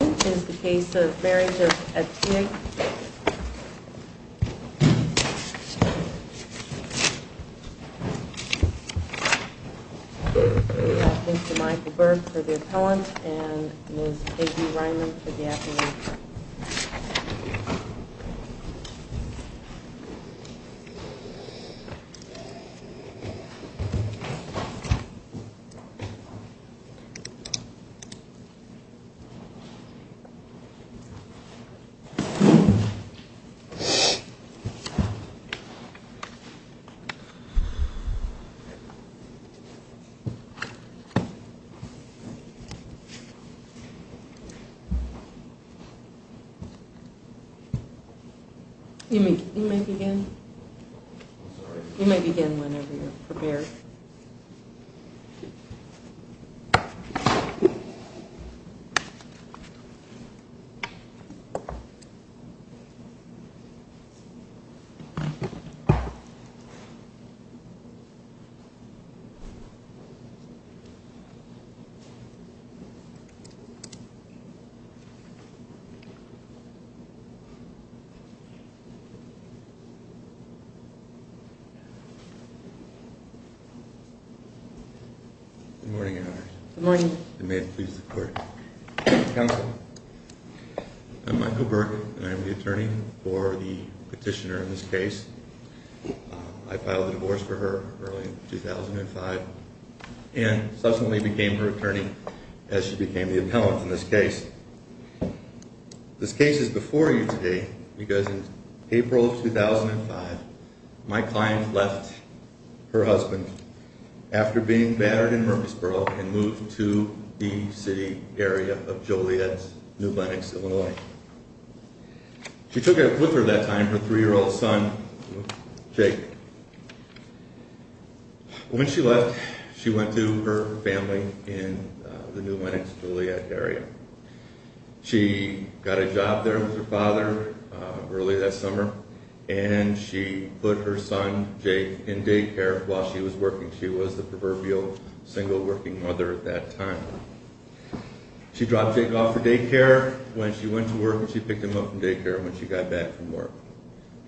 This is the case of Marriage of Attig We have Mr. Michael Berg for the appellant and Ms. Peggy Reimann for the affidavit. You may begin whenever you are prepared. Good morning, Your Honors. Good morning. I'm Michael Berg and I'm the attorney for the petitioner in this case. I filed a divorce for her early in 2005 and subsequently became her attorney as she became the appellant in this case. This case is before you today because in April of 2005, my client left her husband after being battered in Murfreesboro and moved to the city area of Joliet, New Lenox, Illinois. She took with her that time her three-year-old son, Jake. When she left, she went to her family in the New Lenox, Joliet area. She got a job there with her father early that summer and she put her son, Jake, in daycare while she was working. She was the proverbial single working mother at that time. She dropped Jake off for daycare when she went to work and she picked him up from daycare when she got back from work.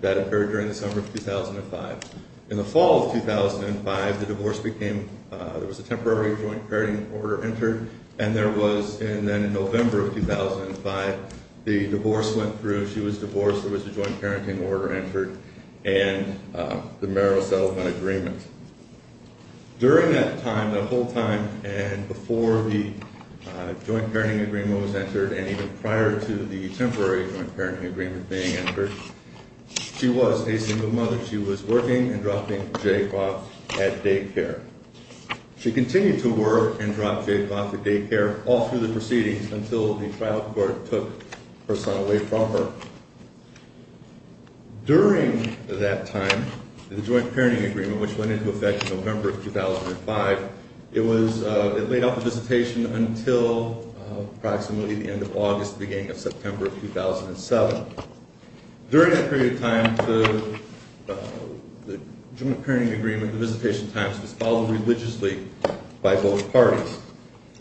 That occurred during the summer of 2005. In the fall of 2005, the divorce became – there was a temporary joint parenting order entered and there was – and then in November of 2005, the divorce went through. She was divorced. There was a joint parenting order entered and the Merrill Settlement Agreement. During that time, the whole time, and before the joint parenting agreement was entered and even prior to the temporary joint parenting agreement being entered, she was a single mother. She was working and dropping Jake off at daycare. She continued to work and drop Jake off at daycare all through the proceedings until the trial court took her son away from her. During that time, the joint parenting agreement, which went into effect in November of 2005, it was – it laid off the visitation until approximately the end of August, beginning of September of 2007. During that period of time, the joint parenting agreement, the visitation times, was followed religiously by both parties.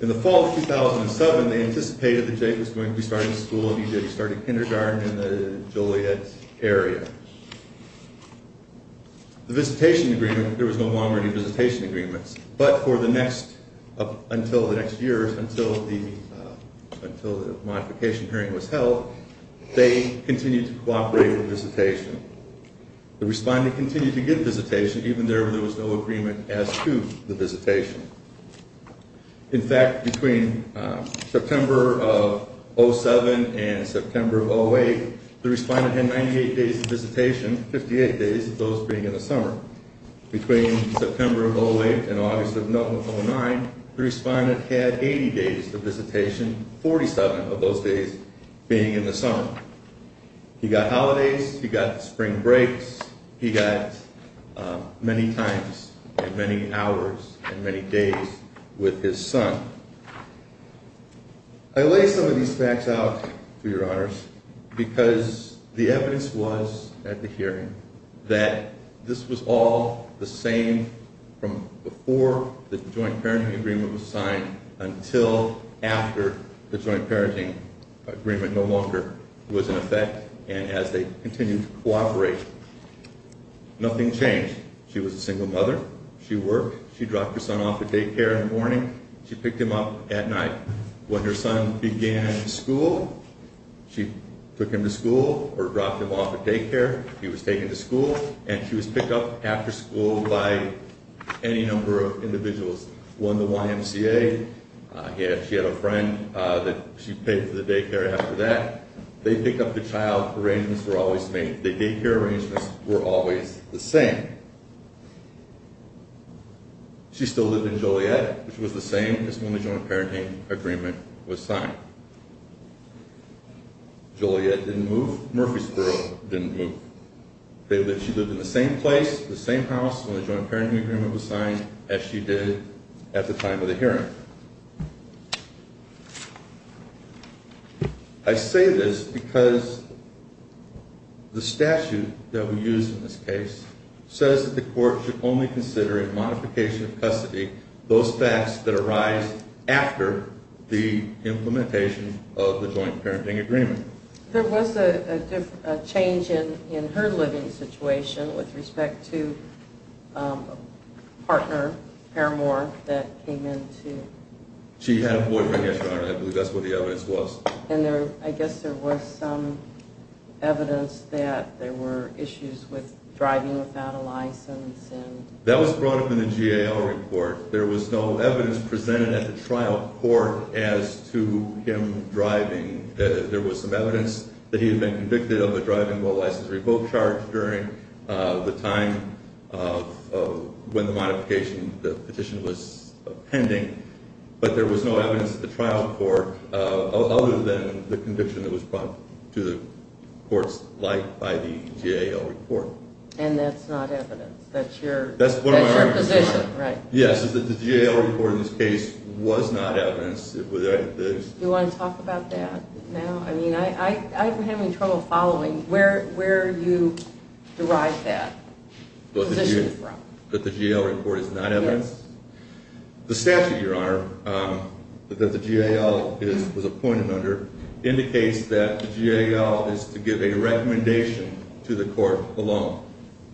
In the fall of 2007, they anticipated that Jake was going to be starting school and he did. He started kindergarten in the Joliet area. The visitation agreement – there was no longer any visitation agreements, but for the next – until the next year, until the modification hearing was held, they continued to cooperate with visitation. The respondent continued to give visitation even though there was no agreement as to the visitation. In fact, between September of 2007 and September of 2008, the respondent had 98 days of visitation, 58 days of those being in the summer. Between September of 2008 and August of 2009, the respondent had 80 days of visitation, 47 of those days being in the summer. He got holidays, he got spring breaks, he got many times and many hours and many days with his son. I lay some of these facts out, to your honors, because the evidence was at the hearing that this was all the same from before the joint parenting agreement was signed until after the joint parenting agreement no longer was in effect and as they continued to cooperate. Nothing changed. She was a single mother. She worked. She dropped her son off at daycare in the morning. She picked him up at night. When her son began school, she took him to school or dropped him off at daycare. He was taken to school and she was picked up after school by any number of individuals. One, the YMCA. She had a friend that she paid for the daycare after that. They picked up the child. Arrangements were always made. The daycare arrangements were always the same. She still lived in Joliet, which was the same as when the joint parenting agreement was signed. Joliet didn't move. Murphy's girl didn't move. She lived in the same place, the same house when the joint parenting agreement was signed as she did at the time of the hearing. I say this because the statute that we use in this case says that the court should only consider in modification of custody those facts that arise after the implementation of the joint parenting agreement. There was a change in her living situation with respect to a partner, Paramore, that came in to... She had a boyfriend, Your Honor. I believe that's what the evidence was. And I guess there was some evidence that there were issues with driving without a license and... That was brought up in the GAO report. There was no evidence presented at the trial court as to him driving. There was some evidence that he had been convicted of a driving without a license revoke charge during the time of when the modification petition was pending. But there was no evidence at the trial court other than the conviction that was brought to the court's light by the GAO report. And that's not evidence. That's your position, right? Yes, the GAO report in this case was not evidence. Do you want to talk about that now? I mean, I'm having trouble following where you derive that position from. That the GAO report is not evidence? Yes. The statute, Your Honor, that the GAO was appointed under indicates that the GAO is to give a recommendation to the court alone.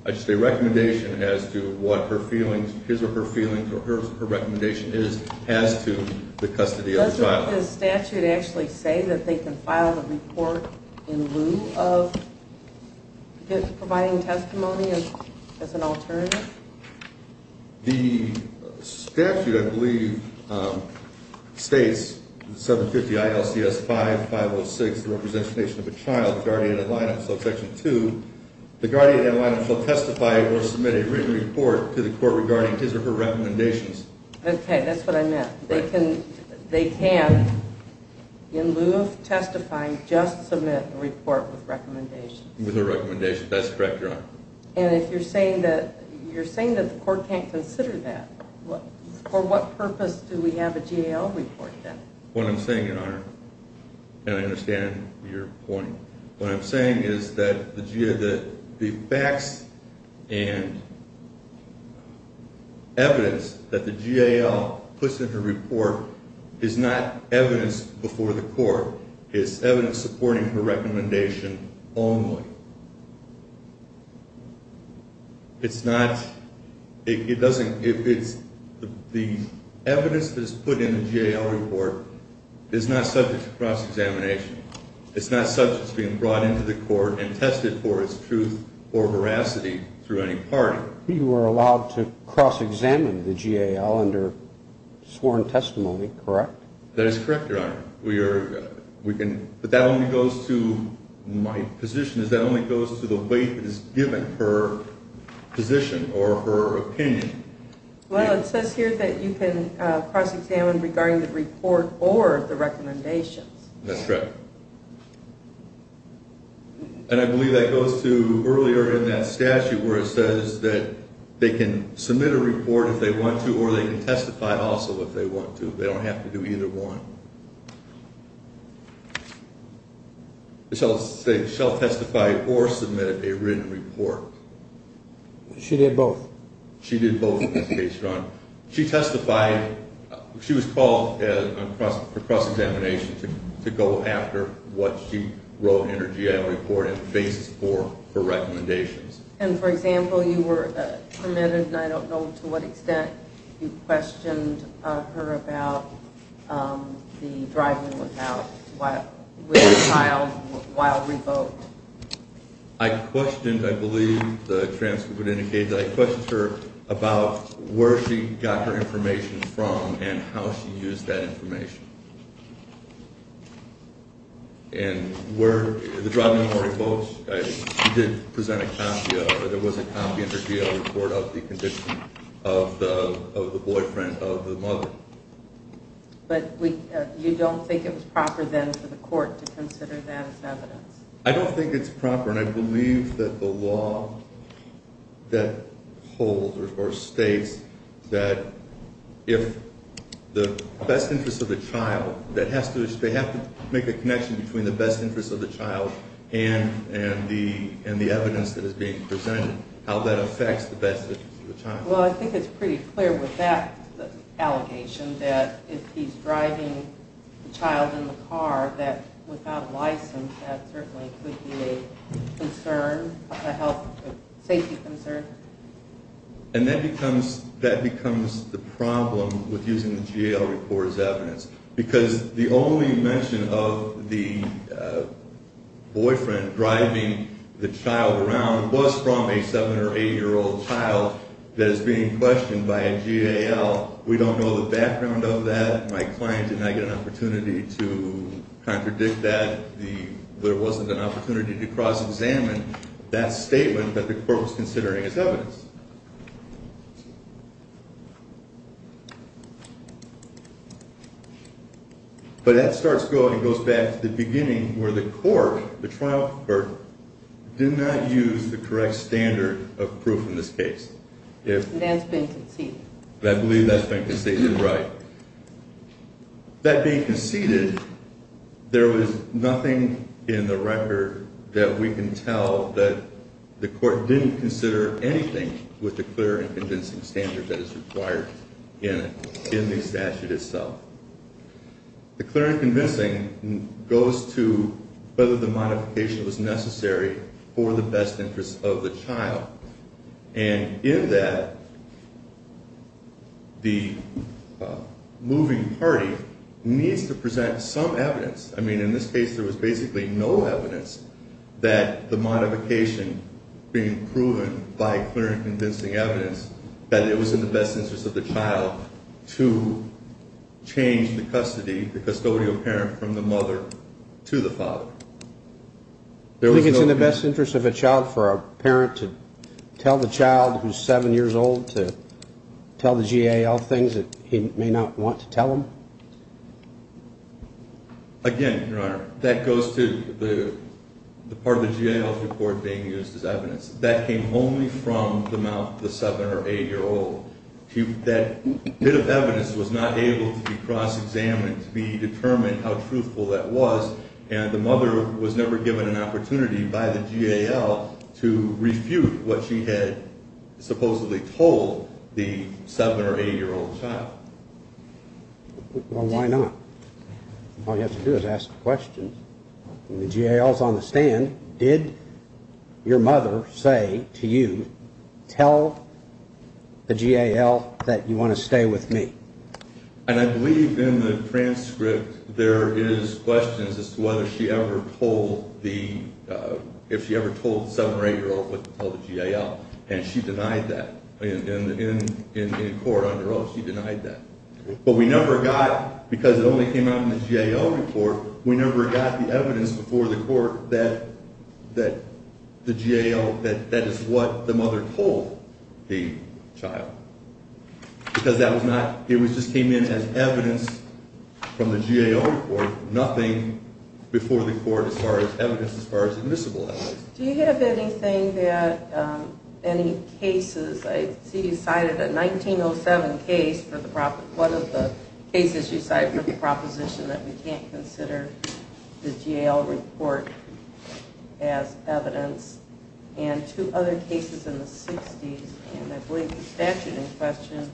I just say recommendation as to what her feelings, his or her feelings, or her recommendation is as to the custody of the child. Does the statute actually say that they can file a report in lieu of providing testimony as an alternative? The statute, I believe, states 750 ILCS 5506, the representation of a child, the guardian ad litem. So Section 2, the guardian ad litem shall testify or submit a written report to the court regarding his or her recommendations. Okay, that's what I meant. They can, in lieu of testifying, just submit a report with recommendations. With a recommendation. That's correct, Your Honor. And if you're saying that the court can't consider that, for what purpose do we have a GAO report then? What I'm saying, Your Honor, and I understand your point, what I'm saying is that the facts and evidence that the GAO puts in her report is not evidence before the court. It's evidence supporting her recommendation only. It's not, it doesn't, it's, the evidence that's put in the GAO report is not subject to cross-examination. It's not subject to being brought into the court and tested for its truth or veracity through any party. You are allowed to cross-examine the GAO under sworn testimony, correct? That is correct, Your Honor. We are, we can, but that only goes to, my position is that only goes to the weight that is given per position or per opinion. Well, it says here that you can cross-examine regarding the report or the recommendations. That's correct. And I believe that goes to earlier in that statute where it says that they can submit a report if they want to or they can testify also if they want to. They don't have to do either one. They shall testify or submit a written report. She did both. She did both in this case, Your Honor. She testified, she was called for cross-examination to go after what she wrote in her GAO report as a basis for her recommendations. And, for example, you were permitted, and I don't know to what extent, you questioned her about the driving without, with the child while revoked. I questioned, I believe the transcript would indicate that I questioned her about where she got her information from and how she used that information. And the driving without revoke, she did present a copy of it. It was a copy in her GAO report of the condition of the boyfriend of the mother. But you don't think it was proper then for the court to consider that as evidence? I don't think it's proper, and I believe that the law that holds or states that if the best interest of the child, that they have to make a connection between the best interest of the child and the evidence that is being presented, how that affects the best interest of the child. Well, I think it's pretty clear with that allegation that if he's driving the child in the car, that without license, that certainly could be a concern, a health, safety concern. And that becomes the problem with using the GAO report as evidence, because the only mention of the boyfriend driving the child around was from a 7 or 8-year-old child that is being questioned by a GAO. We don't know the background of that. My client did not get an opportunity to contradict that. There wasn't an opportunity to cross-examine that statement that the court was considering as evidence. But that goes back to the beginning where the court, the trial court, did not use the correct standard of proof in this case. It has been conceded. I believe that's been conceded right. That being conceded, there was nothing in the record that we can tell that the court didn't consider anything with the clear and convincing standard that is required in the statute itself. The clear and convincing goes to whether the modification was necessary for the best interest of the child. And in that, the moving party needs to present some evidence. I mean, in this case, there was basically no evidence that the modification being proven by clear and convincing evidence that it was in the best interest of the child to change the custody, the custodial parent from the mother to the father. Do you think it's in the best interest of a child for a parent to tell the child who's seven years old to tell the GAL things that he may not want to tell them? Again, Your Honor, that goes to the part of the GAL's report being used as evidence. That came only from the mouth of the seven- or eight-year-old. That bit of evidence was not able to be cross-examined to be determined how truthful that was. And the mother was never given an opportunity by the GAL to refute what she had supposedly told the seven- or eight-year-old child. Well, why not? All you have to do is ask the question. The GAL's on the stand. Did your mother say to you, tell the GAL that you want to stay with me? And I believe in the transcript there is questions as to whether she ever told the – if she ever told the seven- or eight-year-old what to tell the GAL. And she denied that. In court, under oath, she denied that. But we never got – because it only came out in the GAL report – we never got the evidence before the court that the GAL – that that is what the mother told the child. Because that was not – it just came in as evidence from the GAL report, nothing before the court as far as evidence as far as admissible evidence. Do you have anything that – any cases – I see you cited a 1907 case for the – one of the cases you cited for the proposition that we can't consider the GAL report as evidence. And two other cases in the 60s, and I believe the statute in question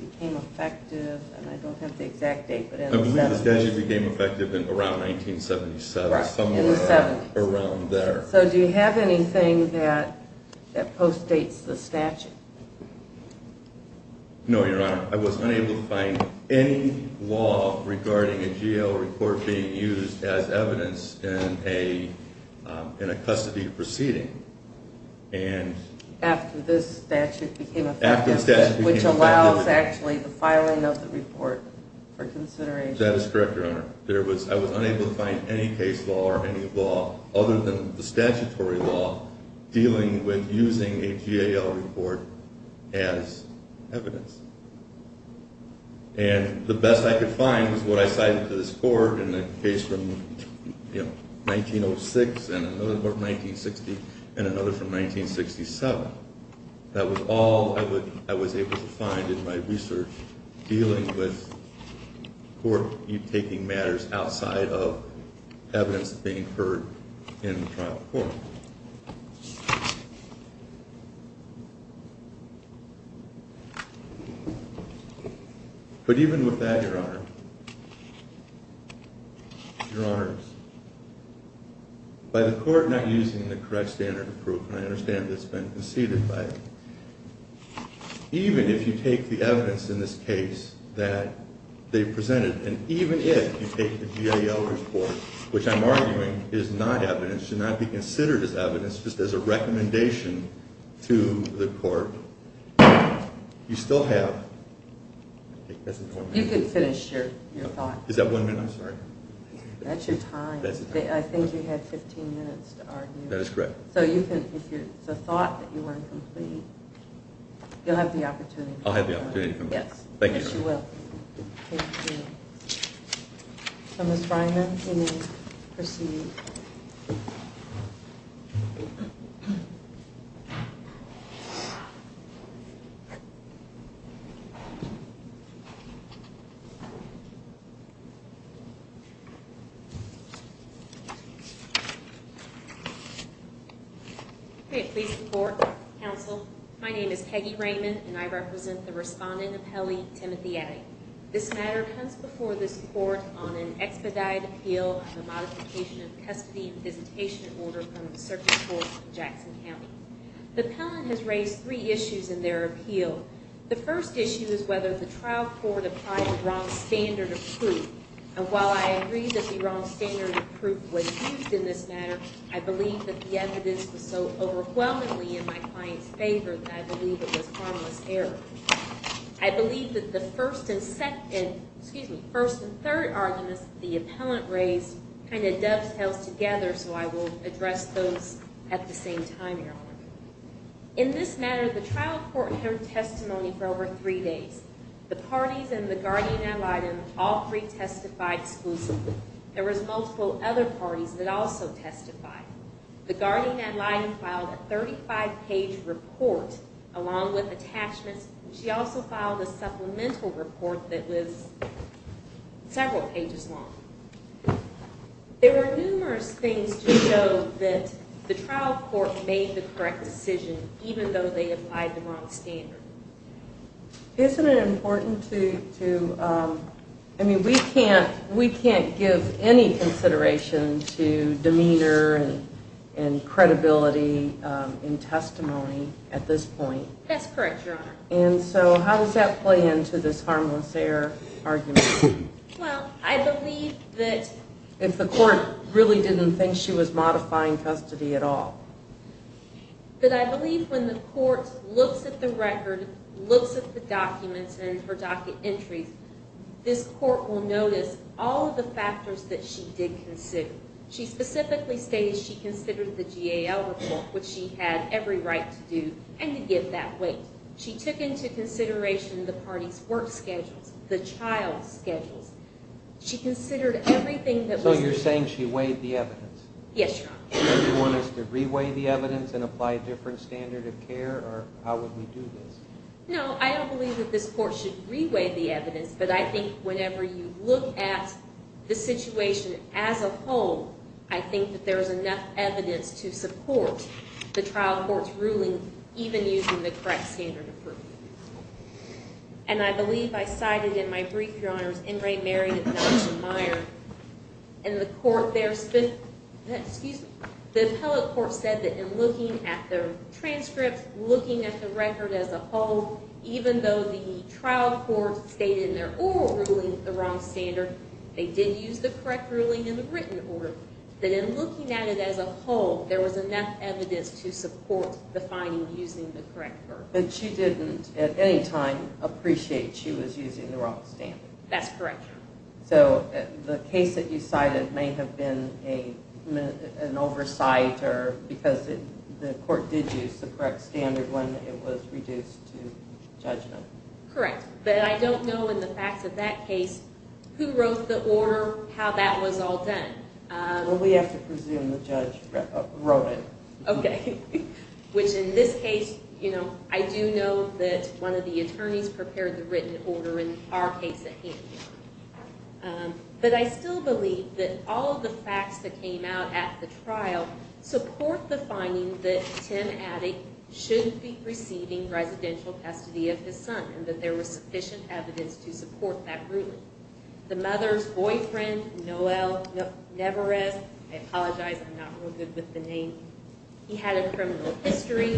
became effective – and I don't have the exact date, but in the 70s. I believe the statute became effective around 1977. Right, in the 70s. Around there. So do you have anything that postdates the statute? No, Your Honor. I was unable to find any law regarding a GAL report being used as evidence in a custody proceeding. And – After this statute became effective. After the statute became effective. Which allows actually the filing of the report for consideration. That is correct, Your Honor. There was – I was unable to find any case law or any law other than the statutory law dealing with using a GAL report as evidence. And the best I could find was what I cited to this court in the case from 1906 and another from 1960 and another from 1967. That was all I was able to find in my research dealing with court taking matters outside of evidence being heard in the trial court. But even with that, Your Honor, Your Honors, by the court not using the correct standard of proof – and I understand it's been conceded by – even if you take the evidence in this case that they presented, and even if you take the GAL report, which I'm arguing is not evidence, should not be considered as evidence, just as a recommendation to the court, you still have – You can finish your thought. Is that one minute? I'm sorry. That's your time. I think you had 15 minutes to argue. That is correct. So you can – if the thought that you weren't complete, you'll have the opportunity to come back. I'll have the opportunity to come back. Thank you, Your Honor. Yes, you will. Thank you. So, Ms. Freiman, you may proceed. Great. Please report, counsel. My name is Peggy Raymond, and I represent the respondent appellee, Timothy Addy. This matter comes before this court on an expedited appeal on the modification of custody and visitation order from the Circuit Court in Jackson County. The appellant has raised three issues in their appeal. The first issue is whether the trial court applied the wrong standard of proof. And while I agree that the wrong standard of proof was used in this matter, I believe that the evidence was so overwhelmingly in my client's favor that I believe it was harmless error. I believe that the first and second – excuse me, first and third arguments that the appellant raised kind of dovetails together, so I will address those at the same time, Your Honor. In this matter, the trial court heard testimony for over three days. The parties in the guardian ad litem all three testified exclusively. There was multiple other parties that also testified. The guardian ad litem filed a 35-page report along with attachments. She also filed a supplemental report that was several pages long. There were numerous things to show that the trial court made the correct decision, even though they applied the wrong standard. Isn't it important to – I mean, we can't give any consideration to demeanor and credibility in testimony at this point. That's correct, Your Honor. And so how does that play into this harmless error argument? Well, I believe that – If the court really didn't think she was modifying custody at all. But I believe when the court looks at the record, looks at the documents and her docket entries, this court will notice all of the factors that she did consider. She specifically stated she considered the GAL report, which she had every right to do, and to give that weight. She took into consideration the parties' work schedules, the child's schedules. She considered everything that was – Yes, Your Honor. Do you want us to re-weigh the evidence and apply a different standard of care, or how would we do this? No, I don't believe that this court should re-weigh the evidence. But I think whenever you look at the situation as a whole, I think that there is enough evidence to support the trial court's ruling, even using the correct standard of proof. And I believe I cited in my brief, Your Honors, Ingrate Mary and Nelson Meyer. And the court there – excuse me – the appellate court said that in looking at the transcripts, looking at the record as a whole, even though the trial court stated in their oral ruling the wrong standard, they did use the correct ruling in the written order, that in looking at it as a whole, there was enough evidence to support the finding using the correct version. But she didn't, at any time, appreciate she was using the wrong standard. That's correct. So the case that you cited may have been an oversight because the court did use the correct standard when it was reduced to judgment. Correct. But I don't know in the facts of that case who wrote the order, how that was all done. Well, we have to presume the judge wrote it. Okay. Which in this case, you know, I do know that one of the attorneys prepared the written order in our case at hand. But I still believe that all of the facts that came out at the trial support the finding that Tim Adick shouldn't be receiving residential custody of his son and that there was sufficient evidence to support that ruling. The mother's boyfriend, Noel Neverez, I apologize, I'm not real good with the name. He had a criminal history.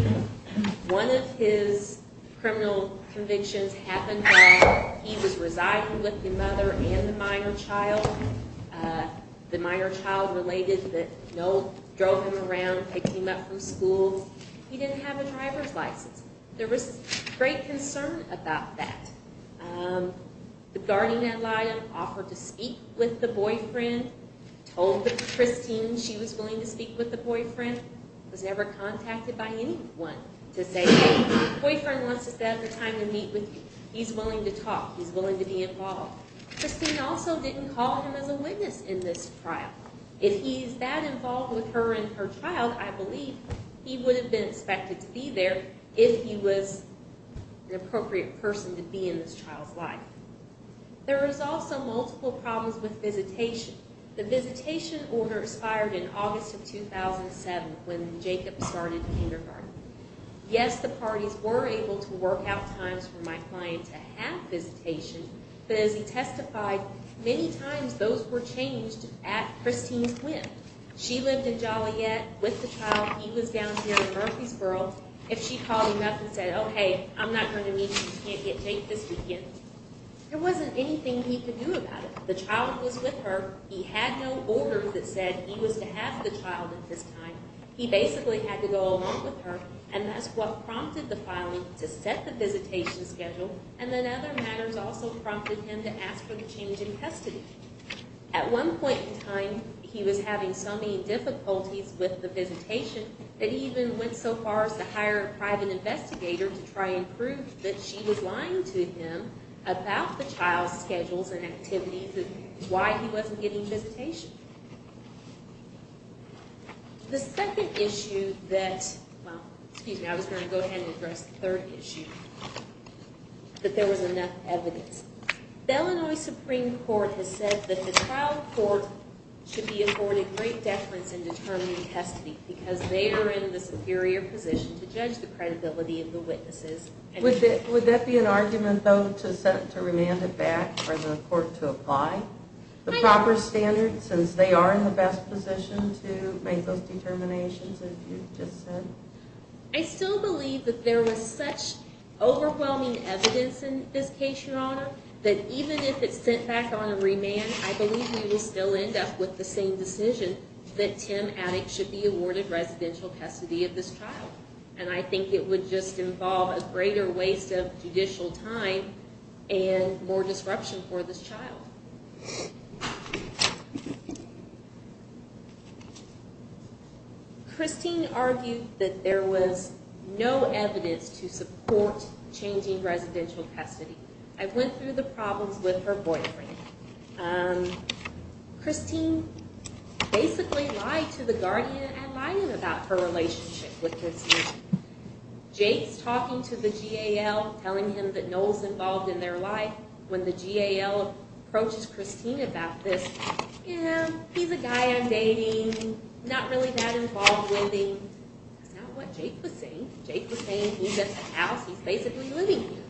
One of his criminal convictions happened while he was residing with the mother and the minor child. The minor child related that Noel drove him around, picked him up from school. He didn't have a driver's license. There was great concern about that. The guardian ad litem offered to speak with the boyfriend, told Christine she was willing to speak with the boyfriend, was never contacted by anyone to say, hey, boyfriend wants to set up a time to meet with you. He's willing to talk. He's willing to be involved. Christine also didn't call him as a witness in this trial. If he's that involved with her and her child, I believe he would have been expected to be there if he was an appropriate person to be in this child's life. There was also multiple problems with visitation. The visitation order expired in August of 2007 when Jacob started kindergarten. Yes, the parties were able to work out times for my client to have visitation, but as he testified, many times those were changed at Christine's whim. She lived in Joliet with the child. He was down here in Murfreesboro. If she called him up and said, oh, hey, I'm not going to meet you, you can't get Jake this weekend, there wasn't anything he could do about it. The child was with her. He had no orders that said he was to have the child at this time. He basically had to go along with her, and that's what prompted the filing to set the visitation schedule, and then other matters also prompted him to ask for the change in custody. At one point in time, he was having so many difficulties with the visitation that he even went so far as to hire a private investigator to try and prove that she was lying to him about the child's schedules and activities and why he wasn't getting visitation. The second issue that, well, excuse me, I was going to go ahead and address the third issue, that there was enough evidence. The Illinois Supreme Court has said that the trial court should be afforded great deference in determining custody because they are in the superior position to judge the credibility of the witnesses. Would that be an argument, though, to remand it back for the court to apply the proper standards since they are in the best position to make those determinations, as you just said? I still believe that there was such overwhelming evidence in this case, Your Honor, that even if it's sent back on a remand, I believe we will still end up with the same decision that Tim Addick should be awarded residential custody of this child, and I think it would just involve a greater waste of judicial time and more disruption for this child. Christine argued that there was no evidence to support changing residential custody. I went through the problems with her boyfriend. Christine basically lied to the guardian and lied about her relationship with his son. Jake's talking to the GAL, telling him that Noel's involved in their life. When the GAL approaches Christine about this, he's a guy I'm dating, not really that involved with him. That's not what Jake was saying. Jake was saying he's at the house, he's basically living here.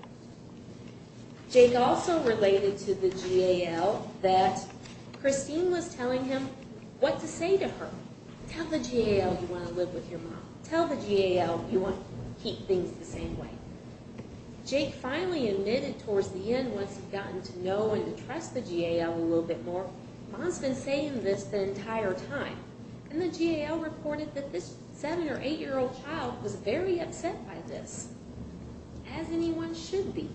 Jake also related to the GAL that Christine was telling him what to say to her. Tell the GAL you want to live with your mom. Tell the GAL you want to keep things the same way. Jake finally admitted towards the end, once he'd gotten to know and trust the GAL a little bit more, Mom's been saying this the entire time. And the GAL reported that this 7- or 8-year-old child was very upset by this, as anyone should be.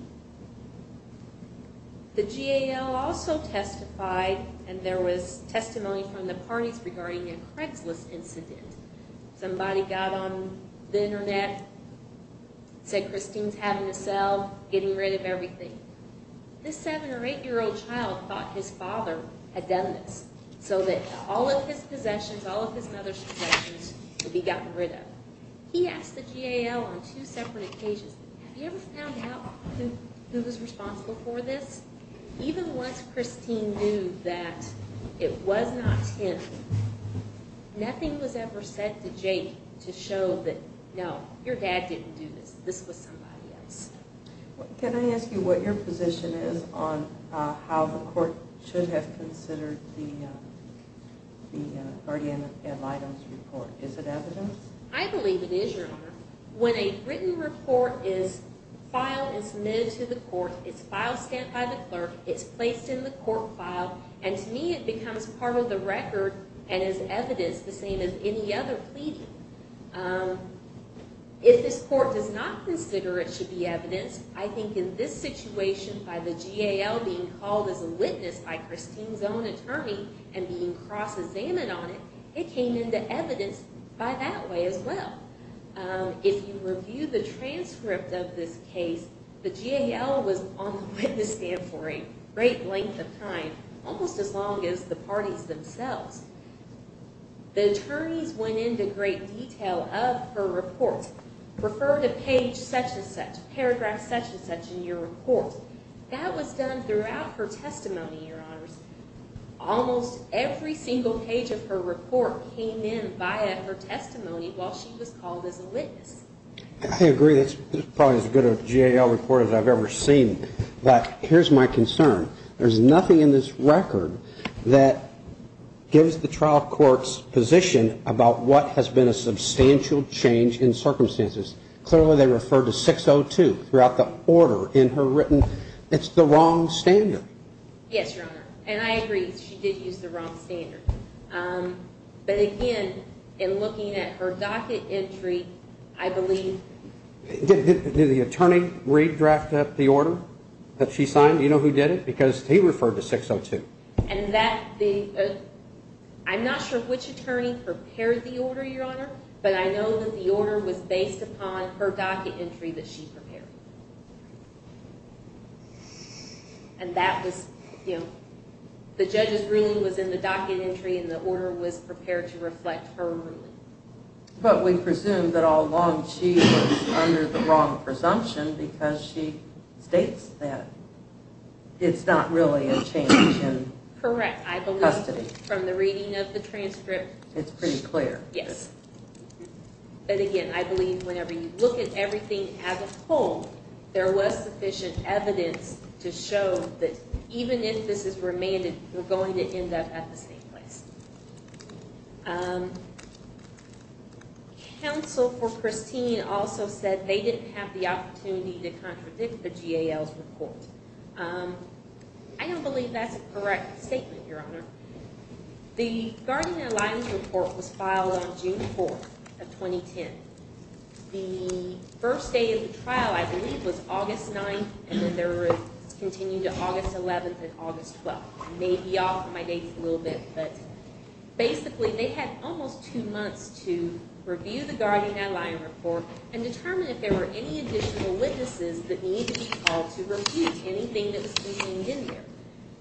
The GAL also testified, and there was testimony from the parties regarding a Craigslist incident. Somebody got on the Internet, said Christine's having a cell, getting rid of everything. This 7- or 8-year-old child thought his father had done this so that all of his possessions, all of his mother's possessions would be gotten rid of. He asked the GAL on two separate occasions, have you ever found out who was responsible for this? Even once Christine knew that it was not him, nothing was ever said to Jake to show that, no, your dad didn't do this, this was somebody else. Can I ask you what your position is on how the court should have considered the guardian of items report? Is it evidence? I believe it is, Your Honor. When a written report is filed and submitted to the court, it's filed, stamped by the clerk, it's placed in the court file, and to me it becomes part of the record and is evidence the same as any other pleading. If this court does not consider it should be evidence, I think in this situation, by the GAL being called as a witness by Christine's own attorney and being cross-examined on it, it came into evidence by that way as well. If you review the transcript of this case, the GAL was on the witness stand for a great length of time, almost as long as the parties themselves. The attorneys went into great detail of her report, referred a page such and such, paragraph such and such in your report. That was done throughout her testimony, Your Honors. Almost every single page of her report came in via her testimony while she was called as a witness. I agree. That's probably as good a GAL report as I've ever seen. But here's my concern. There's nothing in this record that gives the trial court's position about what has been a substantial change in circumstances. Clearly they referred to 602 throughout the order in her written. It's the wrong standard. Yes, Your Honor. And I agree. She did use the wrong standard. But, again, in looking at her docket entry, I believe. Did the attorney redraft the order that she signed? Do you know who did it? Because he referred to 602. I'm not sure which attorney prepared the order, Your Honor, but I know that the order was based upon her docket entry that she prepared. And that was, you know, the judge's ruling was in the docket entry and the order was prepared to reflect her ruling. But we presume that all along she was under the wrong presumption because she states that it's not really a change in custody. Correct. I believe from the reading of the transcript. It's pretty clear. Yes. But, again, I believe whenever you look at everything as a whole, there was sufficient evidence to show that even if this is remanded, you're going to end up at the same place. Counsel for Christine also said they didn't have the opportunity to contradict the GAL's report. I don't believe that's a correct statement, Your Honor. The Guardian-Alliance report was filed on June 4th of 2010. The first day of the trial, I believe, was August 9th, and then there was a continue to August 11th and August 12th. I may be off my dates a little bit, but basically they had almost two months to review the Guardian-Alliance report and determine if there were any additional witnesses that needed to be called to review anything that was contained in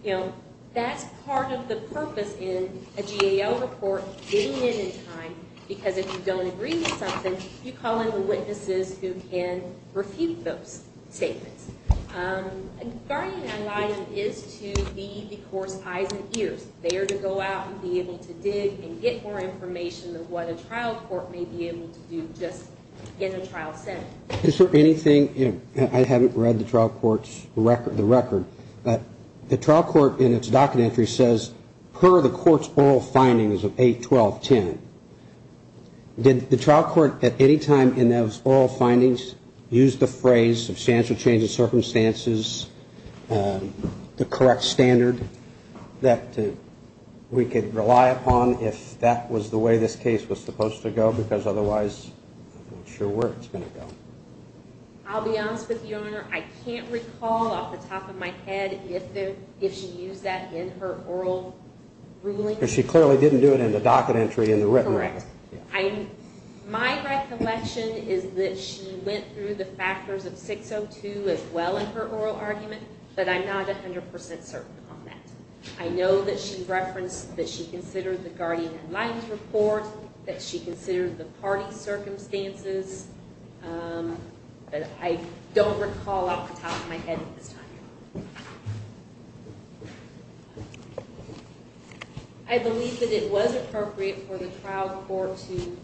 there. That's part of the purpose in a GAL report, getting in in time, because if you don't agree with something, you call in the witnesses who can refute those statements. A Guardian-Alliance is to be the court's eyes and ears. They are to go out and be able to dig and get more information than what a trial court may be able to do just in a trial setting. Is there anything, I haven't read the trial court's record, the record, but the trial court in its docket entry says per the court's oral findings of 8, 12, 10. Did the trial court at any time in those oral findings use the phrase substantial change of circumstances, the correct standard that we could rely upon if that was the way this case was supposed to go? Because otherwise I'm not sure where it's going to go. I'll be honest with you, Your Honor. I can't recall off the top of my head if she used that in her oral ruling. Because she clearly didn't do it in the docket entry in the written record. Correct. My recollection is that she went through the factors of 602 as well in her oral argument, but I'm not 100 percent certain on that. I know that she referenced that she considered the Guardian and Lions report, that she considered the party circumstances, but I don't recall off the top of my head at this time, Your Honor. I believe that it was appropriate for the trial court to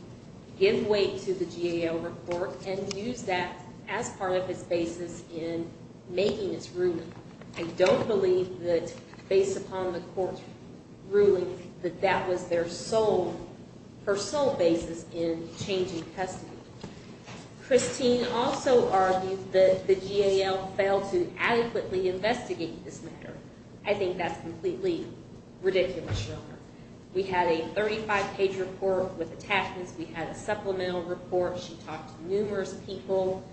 give way to the GAO report and use that as part of its basis in making its ruling. I don't believe that based upon the court's ruling that that was their sole, her sole basis in changing custody. Christine also argued that the GAO failed to adequately investigate this matter. I think that's completely ridiculous, Your Honor. We had a 35-page report with attachments. We had a supplemental report. She talked to numerous people.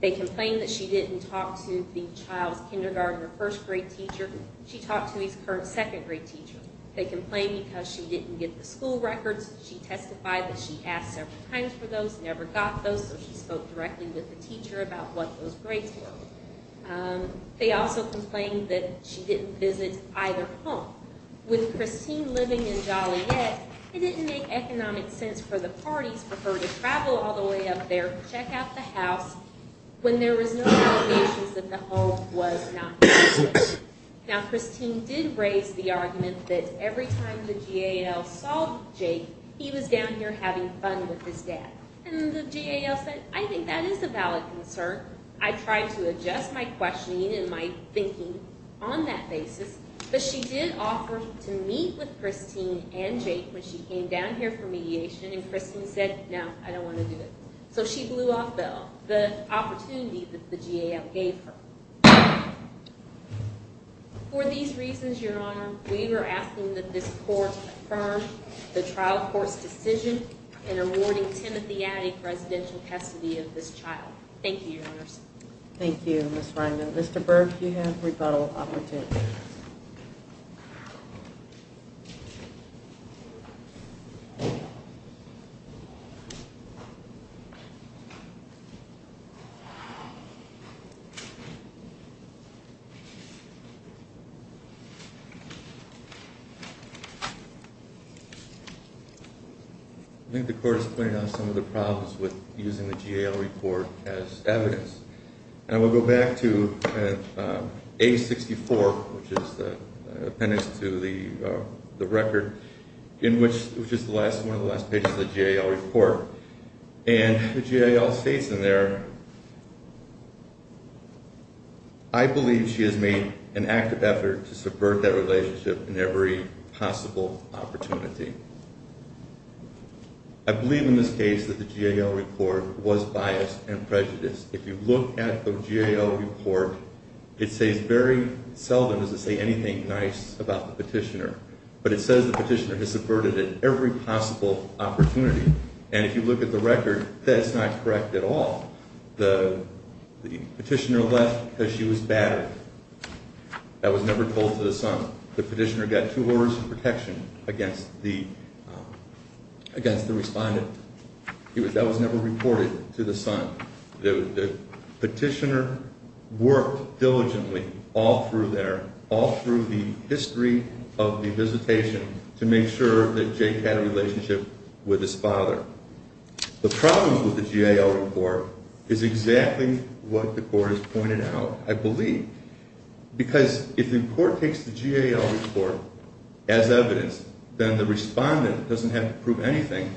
They complained that she didn't talk to the child's kindergarten or first grade teacher. She talked to his current second grade teacher. They complained because she didn't get the school records. She testified that she asked several times for those, never got those, so she spoke directly with the teacher about what those grades were. They also complained that she didn't visit either home. With Christine living in Joliet, it didn't make economic sense for the parties for her to travel all the way up there, check out the house, when there was no allegations that the home was not business. Now, Christine did raise the argument that every time the GAO saw Jake, he was down here having fun with his dad. And the GAO said, I think that is a valid concern. I tried to adjust my questioning and my thinking on that basis. But she did offer to meet with Christine and Jake when she came down here for mediation, and Christine said, no, I don't want to do it. So she blew off the opportunity that the GAO gave her. For these reasons, Your Honor, we were asking that this court confirm the trial court's decision in awarding Timothy Addy presidential custody of this child. Thank you, Your Honors. Thank you, Ms. Reingold. Mr. Burke, you have rebuttal opportunity. I think the court is pointing out some of the problems with using the GAO report as evidence. And we'll go back to A64, which is the appendix to the record, which is one of the last pages of the GAO report. And the GAO states in there, I believe she has made an active effort to subvert that relationship in every possible opportunity. I believe in this case that the GAO report was biased and prejudiced. If you look at the GAO report, it says very seldom does it say anything nice about the petitioner. But it says the petitioner has subverted it every possible opportunity. And if you look at the record, that's not correct at all. The petitioner left because she was battered. That was never told to the son. The petitioner got two orders of protection against the respondent. That was never reported to the son. The petitioner worked diligently all through there, all through the history of the visitation, to make sure that Jake had a relationship with his father. The problem with the GAO report is exactly what the court has pointed out, I believe. Because if the court takes the GAO report as evidence, then the respondent doesn't have to prove anything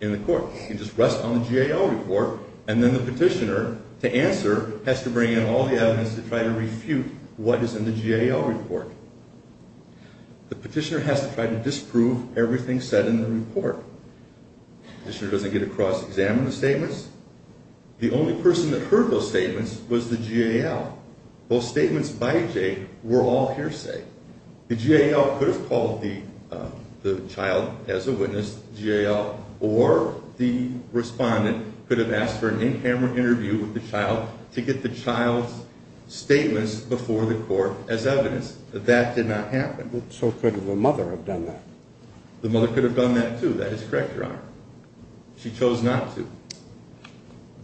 in the court. She can just rest on the GAO report, and then the petitioner, to answer, has to bring in all the evidence to try to refute what is in the GAO report. The petitioner has to try to disprove everything said in the report. The petitioner doesn't get to cross-examine the statements. The only person that heard those statements was the GAO. Those statements by Jake were all hearsay. The GAO could have called the child as a witness, GAO, or the respondent could have asked for an in-camera interview with the child to get the child's statements before the court as evidence. That did not happen. So could the mother have done that? The mother could have done that, too. That is correct, Your Honor. She chose not to.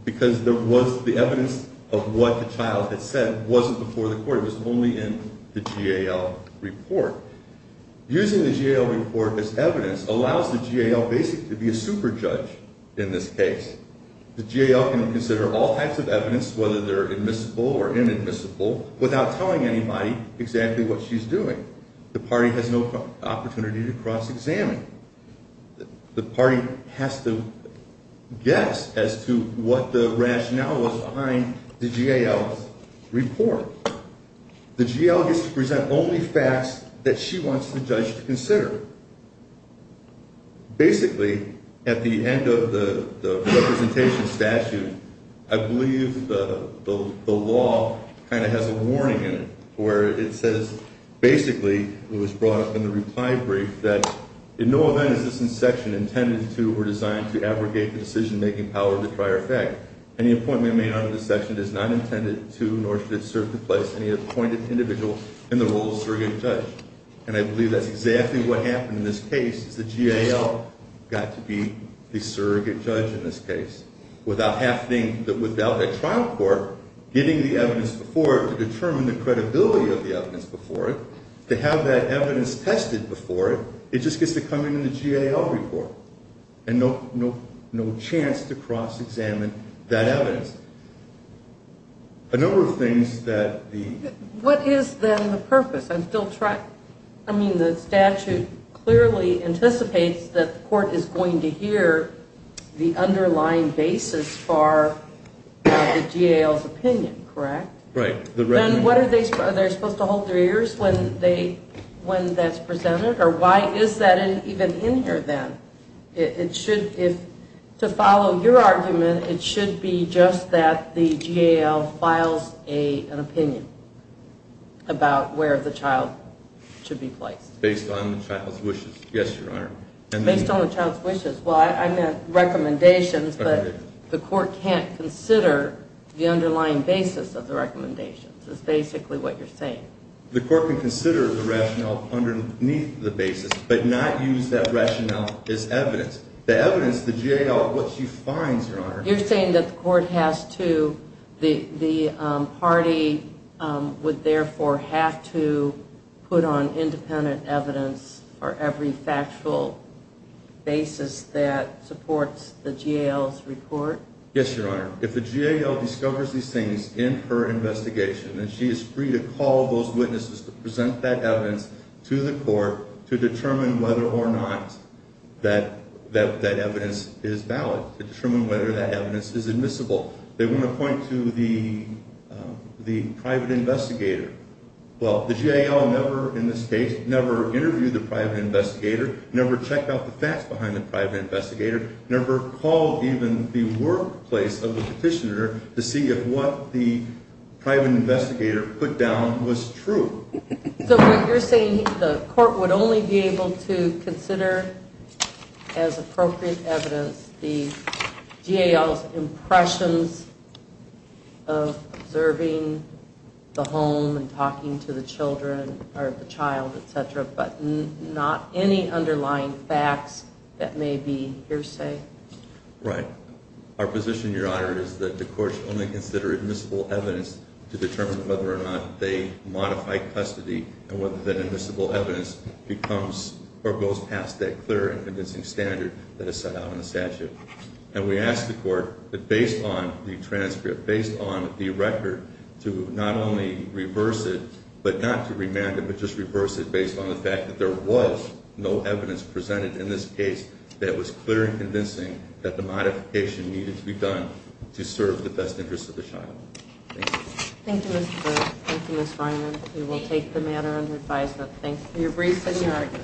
Because there was the evidence of what the child had said wasn't before the court. It was only in the GAO report. Using the GAO report as evidence allows the GAO basically to be a super-judge in this case. The GAO can consider all types of evidence, whether they're admissible or inadmissible, without telling anybody exactly what she's doing. The party has no opportunity to cross-examine. The party has to guess as to what the rationale was behind the GAO's report. The GAO gets to present only facts that she wants the judge to consider. Basically, at the end of the representation statute, I believe the law kind of has a warning in it, where it says basically, it was brought up in the reply brief, that in no event is this section intended to or designed to abrogate the decision-making power of the prior effect. Any appointment made under this section is not intended to nor should it serve to place any appointed individual in the role of surrogate judge. And I believe that's exactly what happened in this case. The GAO got to be the surrogate judge in this case. Without a trial court getting the evidence before it to determine the credibility of the evidence before it, to have that evidence tested before it, it just gets to come in the GAO report. And no chance to cross-examine that evidence. A number of things that the... What is then the purpose? I mean, the statute clearly anticipates that the court is going to hear the underlying basis for the GAO's opinion, correct? Right. Then what are they... are they supposed to hold their ears when that's presented? Or why is that even in here then? It should... to follow your argument, it should be just that the GAO files an opinion about where the child should be placed. Based on the child's wishes. Yes, Your Honor. Based on the child's wishes. Well, I meant recommendations, but the court can't consider the underlying basis of the recommendations. That's basically what you're saying. The court can consider the rationale underneath the basis, but not use that rationale as evidence. The evidence, the GAO, what she finds, Your Honor... You're saying that the court has to... the party would therefore have to put on independent evidence for every factual basis that supports the GAO's report? Yes, Your Honor. If the GAO discovers these things in her investigation, then she is free to call those witnesses to present that evidence to the court to determine whether or not that evidence is valid. To determine whether that evidence is admissible. They want to point to the private investigator. Well, the GAO never, in this case, never interviewed the private investigator, never checked out the facts behind the private investigator, never called even the workplace of the petitioner to see if what the private investigator put down was true. So you're saying the court would only be able to consider as appropriate evidence the GAO's impressions of observing the home and talking to the child, etc., but not any underlying facts that may be hearsay? Right. Our position, Your Honor, is that the court should only consider admissible evidence to determine whether or not they modify custody and whether that admissible evidence becomes or goes past that clear and convincing standard that is set out in the statute. And we ask the court that based on the transcript, based on the record, to not only reverse it, but not to remand it, but just reverse it based on the fact that there was no evidence presented in this case that was clear and convincing that the modification needed to be done to serve the best interest of the child. Thank you. Thank you, Mr. Burke. Thank you, Ms. Reiner. We will take the matter under advisement. Thank you.